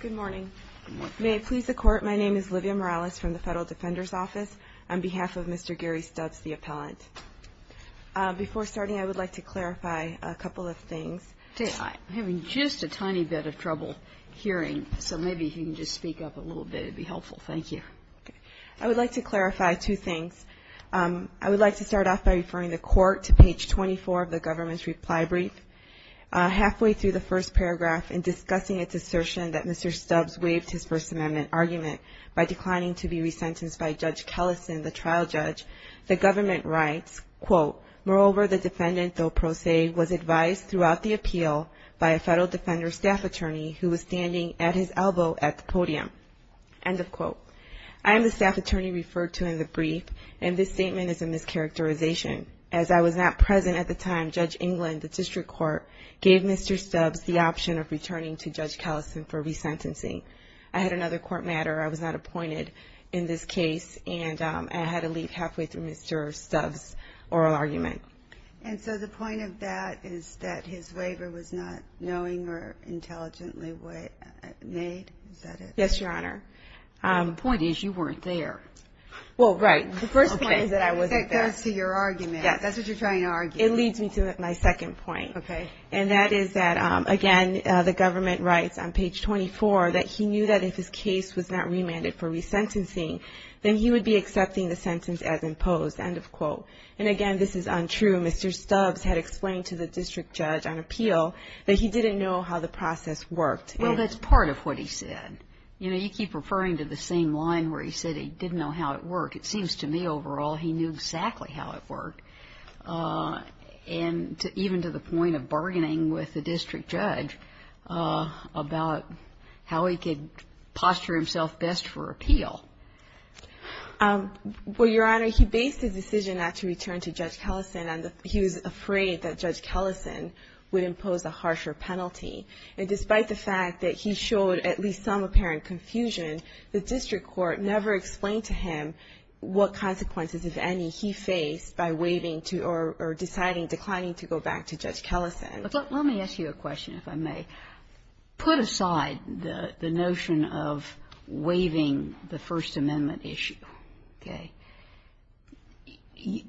Good morning. May it please the Court, my name is Livia Morales from the Federal Defender's Office on behalf of Mr. Gary Stubbs, the appellant. Before starting, I would like to clarify a couple of things. I'm having just a tiny bit of trouble hearing, so maybe if you can just speak up a little bit, it would be helpful. Thank you. I would like to clarify two things. I would like to start off by referring the Court to page 24 of the government's reply brief. Halfway through the first paragraph in discussing its assertion that Mr. Stubbs waived his First Amendment argument by declining to be re-sentenced by Judge Kellison, the trial judge, the government writes, quote, Moreover, the defendant, though pro se, was advised throughout the appeal by a Federal Defender's staff attorney who was standing at his elbow at the podium. End of quote. I am the staff attorney referred to in the brief, and this statement is a mischaracterization. As I was not present at the time, Judge England, the district court, gave Mr. Stubbs the option of returning to Judge Kellison for re-sentencing. I had another court matter. I was not appointed in this case, and I had to leave halfway through Mr. Stubbs' oral argument. And so the point of that is that his waiver was not knowing or intelligently made? Is that it? Yes, Your Honor. The point is you weren't there. Well, right. The first point is that I wasn't there. That goes to your argument. That's what you're trying to argue. It leads me to my second point, and that is that, again, the government writes on page 24 that he knew that if his case was not remanded for re-sentencing, then he would be accepting the sentence as imposed. End of quote. And again, this is untrue. Mr. Stubbs had explained to the district judge on appeal that he didn't know how the process worked. Well, that's part of what he said. You know, you keep referring to the same line where he said he didn't know how it worked. It seems to me, overall, he knew exactly how it worked, and even to the point of bargaining with the district judge about how he could posture himself best for appeal. Well, Your Honor, he based his decision not to return to Judge Kellison, and he was afraid that Judge Kellison would impose a harsher penalty. And despite the fact that he showed at least some apparent confusion, the district court never explained to him what consequences, if any, he faced by waiving to or deciding, declining to go back to Judge Kellison. Let me ask you a question, if I may. Put aside the notion of waiving the First Amendment issue, okay,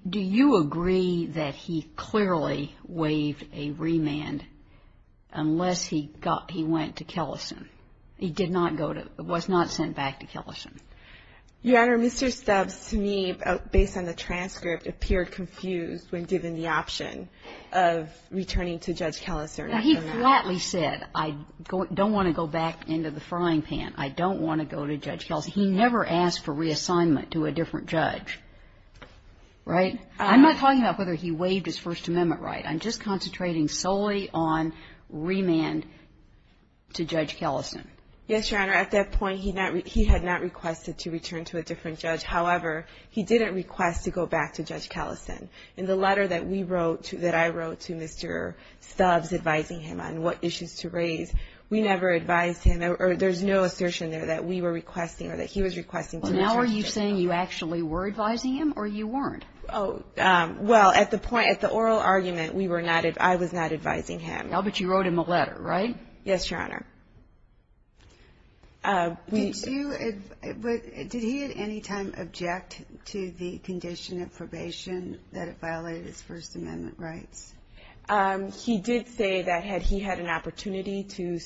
do you agree that he clearly waived a remand unless he got, he went to Kellison, he did not go to, was not sent back to Kellison? Your Honor, Mr. Stubbs, to me, based on the transcript, appeared confused when given the option of returning to Judge Kellison. He flatly said, I don't want to go back into the frying pan. I don't want to go to Judge Kellison. I don't want to go back to Judge Kellison. And I'm not talking about whether he waived his First Amendment right. I'm just concentrating solely on remand to Judge Kellison. Yes, Your Honor. At that point, he had not requested to return to a different judge. However, he didn't request to go back to Judge Kellison. In the letter that we wrote, that I wrote to Mr. Stubbs advising him on what issues to raise, we never advised him, or there's no assertion there that we were requesting or that he was requesting to go back. So are you saying you actually were advising him, or you weren't? Oh, well, at the point, at the oral argument, we were not, I was not advising him. No, but you wrote him a letter, right? Yes, Your Honor. Did you, did he at any time object to the condition of probation that it violated his First Amendment rights? He did say that had he had an opportunity to,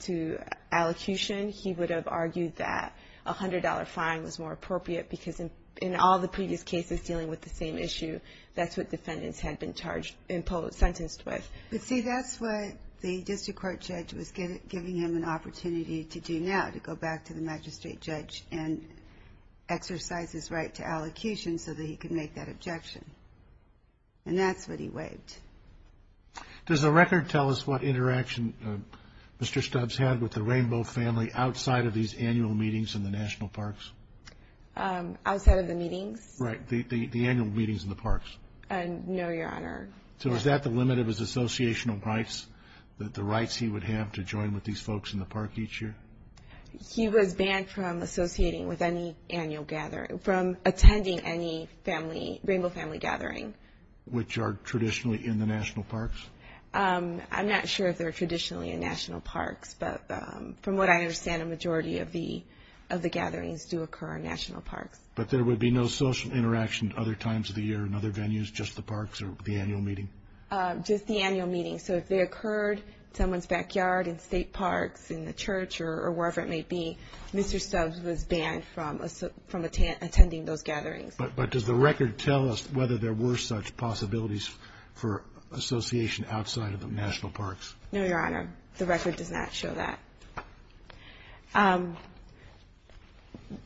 to allocution, he would have argued that a $100 fine was more appropriate, because in all the previous cases dealing with the same issue, that's what defendants had been charged, imposed, sentenced with. But see, that's what the district court judge was giving him an opportunity to do now, to go back to the magistrate judge and exercise his right to allocation so that he could make that objection. And that's what he waived. Does the record tell us what interaction Mr. Stubbs had with the Rainbow family outside of these annual meetings in the national parks? Outside of the meetings? Right, the annual meetings in the parks. No, Your Honor. So is that the limit of his associational rights, that the rights he would have to join with these folks in the park each year? He was banned from associating with any annual gathering, from attending any family, Rainbow family gathering. Which are traditionally in the national parks? I'm not sure if they're traditionally in national parks, but from what I understand, a majority of the gatherings do occur in national parks. But there would be no social interaction other times of the year in other venues, just the parks or the annual meeting? Just the annual meeting. So if they occurred in someone's backyard, in state parks, in the church or wherever it may be, Mr. Stubbs was banned from attending those gatherings. But does the record tell us whether there were such possibilities for association outside of the national parks? No, Your Honor. The record does not show that.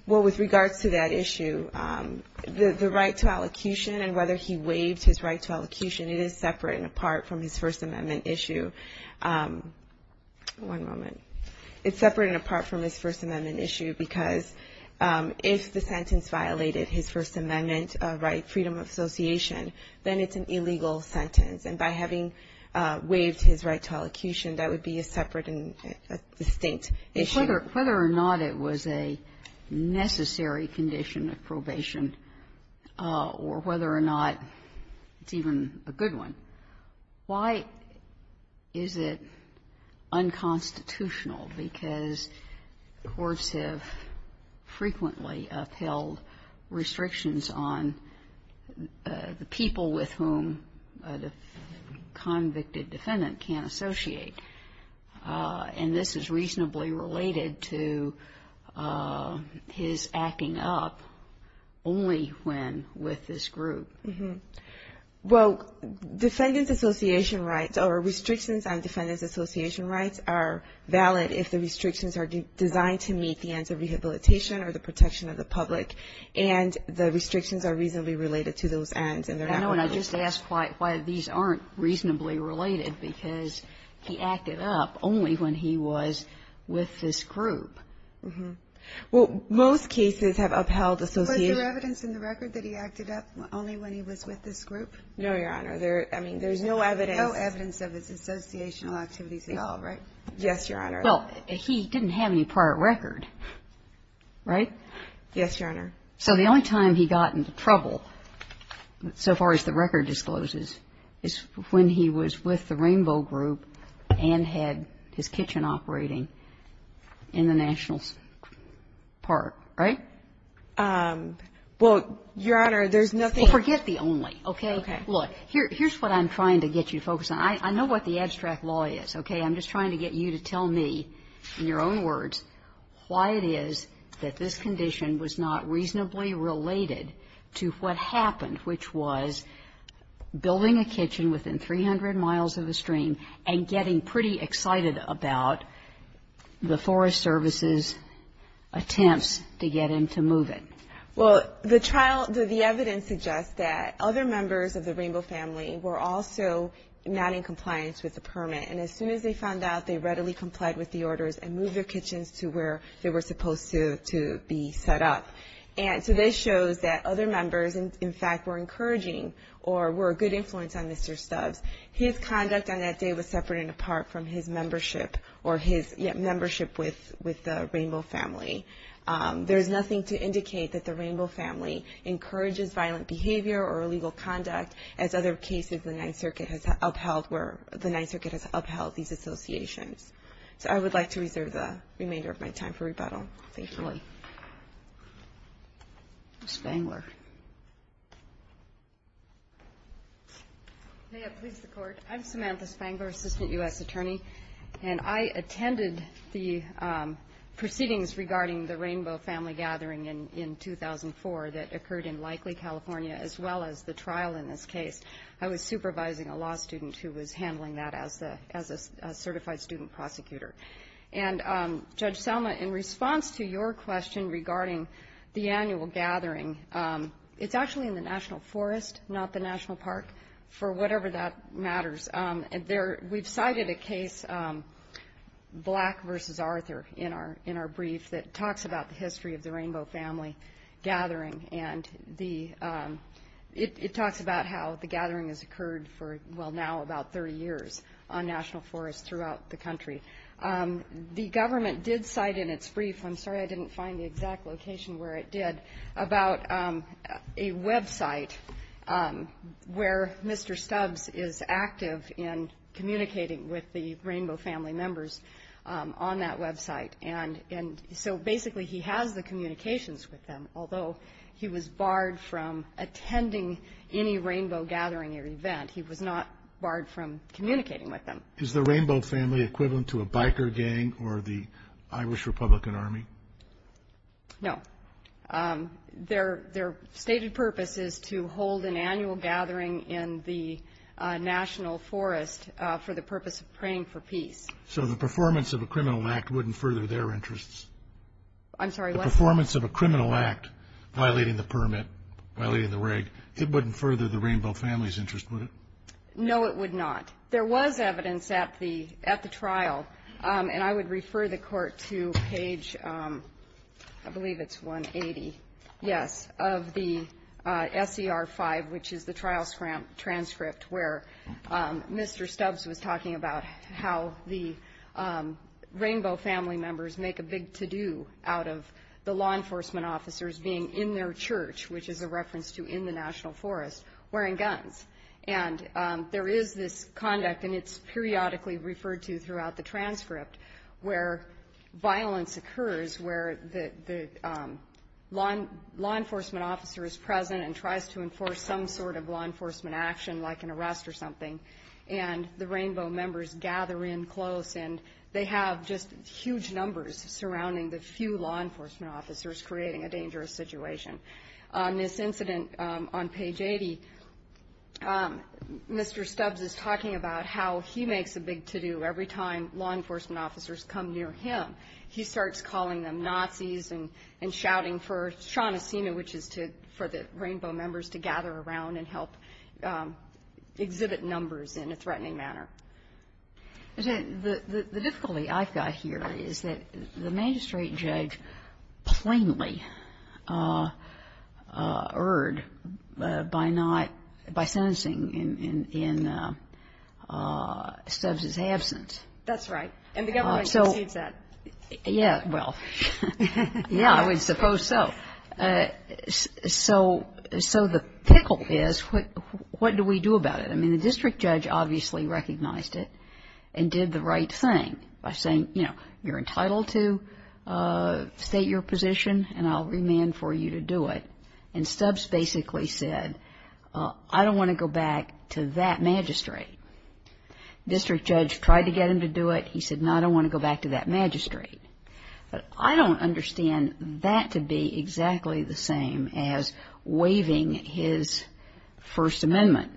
Well, with regards to that issue, the right to allocution and whether he waived his right to allocution, it is separate and apart from his First Amendment issue. One moment. It's separate and apart from his First Amendment issue because if the sentence violated his First Amendment right, freedom of association, then it's an illegal sentence. And by having waived his right to allocution, that would be a separate and distinct issue. Whether or not it was a necessary condition of probation or whether or not it's even a good one, why is it unconstitutional? Because courts have frequently upheld restrictions on the people with whom the convicted defendant can't associate. And this is reasonably related to his acting up only when with this group. Well, defendant's association rights or restrictions on defendant's association rights are valid if the restrictions are designed to meet the ends of rehabilitation or the protection of the public. And the restrictions are reasonably related to those ends. I know, and I just asked why these aren't reasonably related because he acted up only when he was with this group. Well, most cases have upheld association. Was there evidence in the record that he acted up only when he was with this group? No, Your Honor. There's no evidence. No evidence of his associational activities at all, right? Yes, Your Honor. Well, he didn't have any prior record, right? Yes, Your Honor. So the only time he got into trouble, so far as the record discloses, is when he was with the Rainbow Group and had his kitchen operating in the National Park, right? Well, Your Honor, there's nothing else. Well, forget the only, okay? Okay. Look, here's what I'm trying to get you to focus on. I know what the abstract law is, okay? I'm just trying to get you to tell me, in your own words, why it is that this condition was not reasonably related to what happened, which was building a kitchen within 300 miles of a stream and getting pretty excited about the Forest Service's attempts to get him to move it. Well, the trial, the evidence suggests that other members of the Rainbow family were also not in compliance with the permit. And as soon as they found out, they readily complied with the orders and moved their kitchens to where they were supposed to be set up. And so this shows that other members, in fact, were encouraging or were a good influence on Mr. Stubbs. His conduct on that day was separate and apart from his membership or his membership with the Rainbow family. There's nothing to indicate that the Rainbow family encourages violent behavior or illegal conduct as other cases the Ninth Circuit has upheld where the Ninth Circuit has upheld these associations. So I would like to reserve the remainder of my time for rebuttal, thank you. Ms. Spangler. May it please the Court. I'm Samantha Spangler, Assistant U.S. Attorney. And I attended the proceedings regarding the Rainbow family gathering in 2004 that occurred in Likely, California, as well as the trial in this case. I was supervising a law student who was handling that as a certified student prosecutor. And Judge Selma, in response to your question regarding the annual gathering, it's actually in the National Forest, not the National Park, for whatever that matters. We've cited a case, Black v. Arthur, in our brief that talks about the history of the gathering has occurred for, well now, about 30 years on National Forests throughout the country. The government did cite in its brief, I'm sorry I didn't find the exact location where it did, about a website where Mr. Stubbs is active in communicating with the Rainbow family members on that website. And so basically he has the communications with them, although he was barred from attending any Rainbow gathering or event. He was not barred from communicating with them. Is the Rainbow family equivalent to a biker gang or the Irish Republican Army? No. Their stated purpose is to hold an annual gathering in the National Forest for the purpose of praying for peace. So the performance of a criminal act wouldn't further their interests? I'm sorry, what? The performance of a criminal act violating the permit, violating the reg, it wouldn't further the Rainbow family's interest, would it? No it would not. There was evidence at the trial, and I would refer the Court to page, I believe it's 180, yes, of the SCR5, which is the trial transcript where Mr. Stubbs was talking about how the law enforcement officers being in their church, which is a reference to in the National Forest, wearing guns. And there is this conduct, and it's periodically referred to throughout the transcript, where violence occurs where the law enforcement officer is present and tries to enforce some sort of law enforcement action, like an arrest or something, and the Rainbow members gather in close, and they have just huge numbers surrounding the few law enforcement officers creating a dangerous situation. On this incident on page 80, Mr. Stubbs is talking about how he makes a big to-do every time law enforcement officers come near him. He starts calling them Nazis and shouting for Shana Sema, which is for the Rainbow members to gather around and help exhibit numbers in a threatening manner. The difficulty I've got here is that the magistrate judge plainly erred by not, by sentencing in Stubbs' absence. That's right, and the government concedes that. Yeah, well, yeah, I would suppose so. So, the pickle is, what do we do about it? I mean, the district judge obviously recognized it and did the right thing by saying, you know, you're entitled to state your position, and I'll remand for you to do it. And Stubbs basically said, I don't want to go back to that magistrate. The district judge tried to get him to do it. He said, no, I don't want to go back to that magistrate. But I don't understand that to be exactly the same as waiving his First Amendment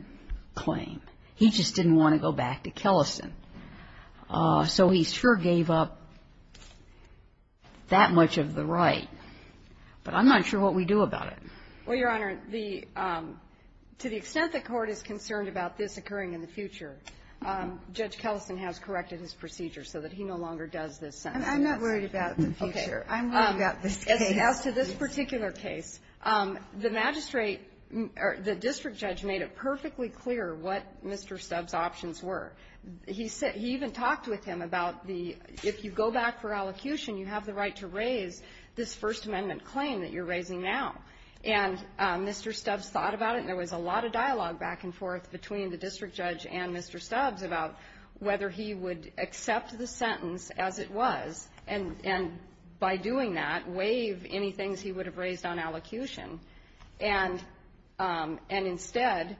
claim. He just didn't want to go back to Kellison. So he sure gave up that much of the right, but I'm not sure what we do about it. Well, Your Honor, the, to the extent the Court is concerned about this occurring in the future, Judge Kellison has corrected his procedure so that he no longer does this sentence. I'm not worried about the future. I'm worried about this case. As to this particular case, the magistrate, or the district judge, made it perfectly clear what Mr. Stubbs' options were. He said, he even talked with him about the, if you go back for allocution, you have the right to raise this First Amendment claim that you're raising now. And Mr. Stubbs thought about it, and there was a lot of dialogue back and forth between the district judge and Mr. Stubbs about whether he would accept the sentence as it was, and by doing that, waive any things he would have raised on allocution. And instead,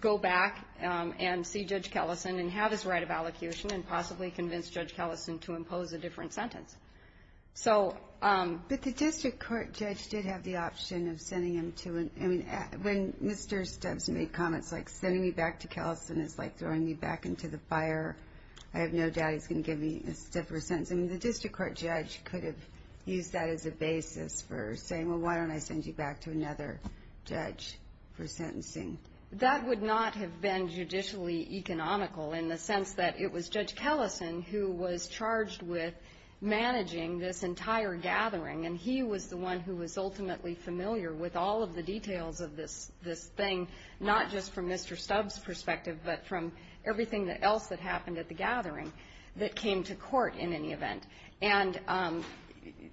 go back and see Judge Kellison and have his right of allocution and possibly convince Judge Kellison to impose a different sentence. So. But the district court judge did have the option of sending him to an, I mean, when Mr. Stubbs made comments like, sending me back to Kellison is like throwing me back into the fire. I have no doubt he's going to give me a stiffer sentence. I mean, the district court judge could have used that as a basis for saying, well, why don't I send you back to another judge for sentencing? That would not have been judicially economical in the sense that it was Judge Kellison who was charged with managing this entire gathering. And he was the one who was ultimately familiar with all of the details of this, this thing, not just from Mr. Stubbs' perspective, but from everything else that happened at the gathering that came to court in any event. And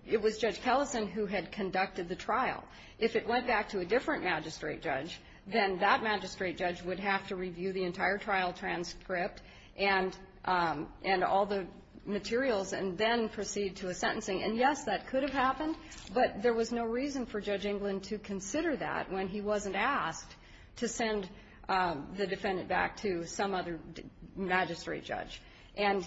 it was Judge Kellison who had conducted the trial. If it went back to a different magistrate judge, then that magistrate judge would have to review the entire trial transcript and and all the materials and then proceed to a sentencing. And yes, that could have happened, but there was no reason for Judge England to consider that when he wasn't asked to send the defendant back to some other magistrate judge. And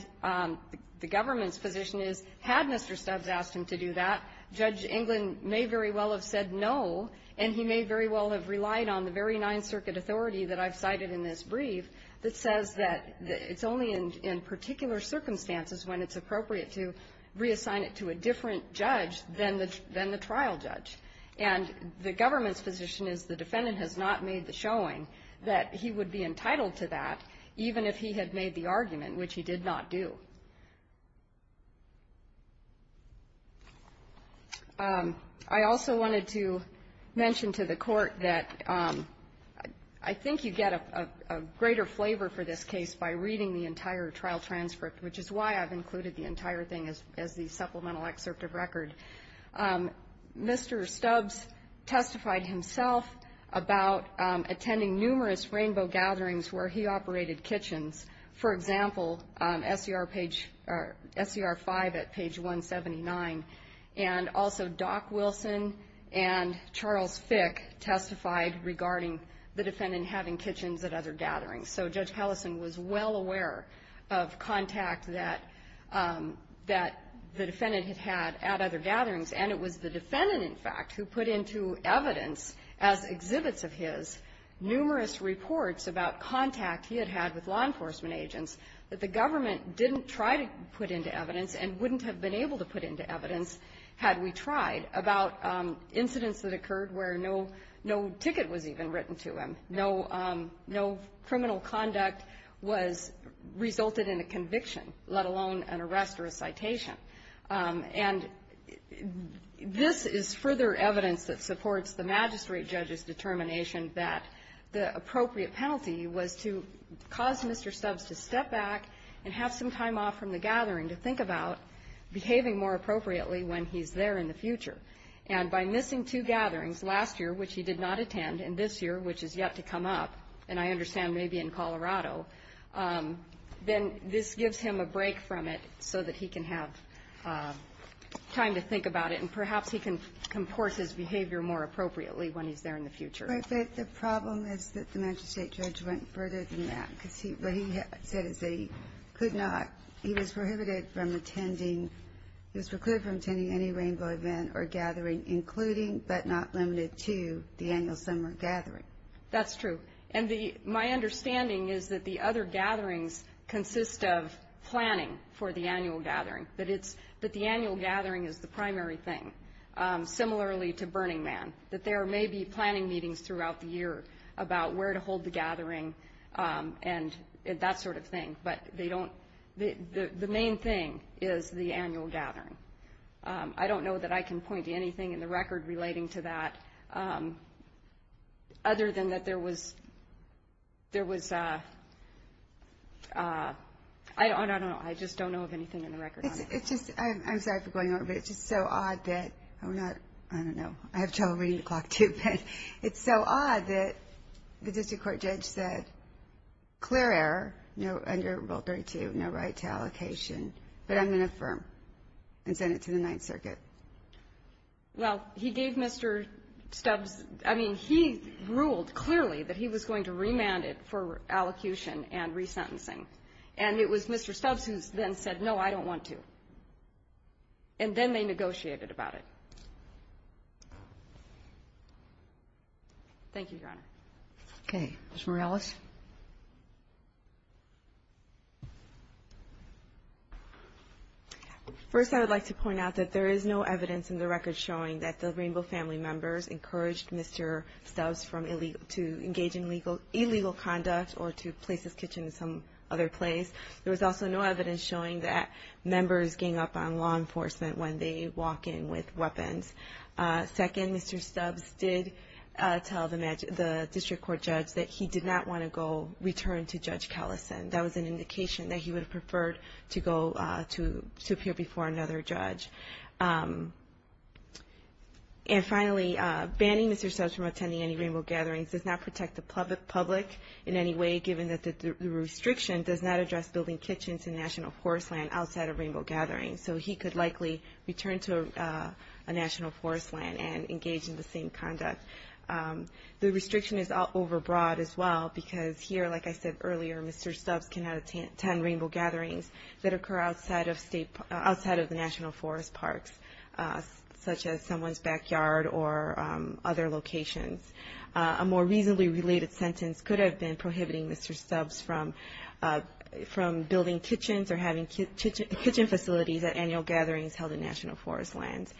the government's position is, had Mr. Stubbs asked him to do that, Judge England may very well have said no, and he may very well have relied on the very Ninth Circuit authority that I've cited in this brief that says that it's only in particular circumstances when it's appropriate to reassign it to a different judge than the trial judge. And the government's position is the defendant has not made the showing that he would be entitled to that, even if he had made the argument, which he did not do. I also wanted to mention to the court that I think you get a greater flavor for this case by reading the entire trial transcript, which is why I've included the entire thing as the supplemental excerpt of the case. Judge Stubbs testified himself about attending numerous rainbow gatherings where he operated kitchens. For example, SCR page or SCR 5 at page 179. And also Doc Wilson and Charles Fick testified regarding the defendant having kitchens at other gatherings. So Judge Pallison was well aware of contact that that the defendant had had at other gatherings. And it was the defendant in fact, who put into evidence as exhibits of his numerous reports about contact he had had with law enforcement agents that the government didn't try to put into evidence and wouldn't have been able to put into evidence had we tried about incidents that occurred where no ticket was even written to him. No criminal conduct was resulted in a arrest or a citation. And this is further evidence that supports the magistrate judge's determination that the appropriate penalty was to cause Mr. Stubbs to step back and have some time off from the gathering to think about behaving more appropriately when he's there in the future. And by missing two gatherings last year, which he did not attend, and this year, which has yet to come up, and I understand maybe in Colorado, then this gives him a break from it so that he can have time to think about it. And perhaps he can comport his behavior more appropriately when he's there in the future. But the problem is that the magistrate judge went further than that because what he said is that he could not, he was prohibited from attending, he was prohibited from attending any rainbow event or gathering, including but not limited to the annual summer gathering. That's true. And the, my understanding is that the other gatherings consist of planning for the annual gathering, but it's that the annual gathering is the primary thing. Similarly to Burning Man, that there may be planning meetings throughout the year about where to hold the gathering and that sort of thing. But they don't, the main thing is the annual gathering. I don't know that I can point to anything in the record relating to that other than that there was, there was a, I don't, I don't know. I just don't know of anything in the record. It's just, I'm sorry for going over, but it's just so odd that we're not, I don't know. I have trouble reading the clock too, but it's so odd that the district court judge said clear error, no under rule 32, no right to allocation, but I'm going to affirm and send it to the ninth circuit. Well, he gave Mr. Stubbs, I mean, he ruled clearly that he was going to remand it for allocution and resentencing. And it was Mr. Stubbs who then said, no, I don't want to. And then they negotiated about it. Thank you, Your Honor. Okay. Ms. Morales. First, I would like to point out that there is no evidence in the record showing that the Rainbow family members encouraged Mr. Stubbs from illegal, to engage in illegal conduct or to place his kitchen in some other place. There was also no evidence showing that members gang up on law enforcement when they walk in with weapons. Second, Mr. Stubbs did, tell the district court judge that he did not want to go return to judge Callison. That was an indication that he would have preferred to go to appear before another judge. And finally banning Mr. Stubbs from attending any Rainbow gatherings does not protect the public in any way, given that the restriction does not address building kitchens in national forest land outside of Rainbow gatherings. So he could likely return to a national forest land and engage in the same conduct. The restriction is all overbroad as well, because here, like I said earlier, Mr. Stubbs cannot attend Rainbow gatherings that occur outside of state, outside of the national forest parks, such as someone's backyard or other locations. A more reasonably related sentence could have been prohibiting Mr. Stubbs from, from building kitchens or having kitchen facilities at annual gatherings held in national forest lands.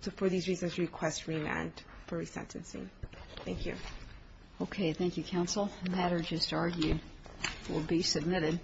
So for these reasons, request remand. For resentencing. Thank you. Okay. Thank you. Counsel. The matter just argued will be submitted.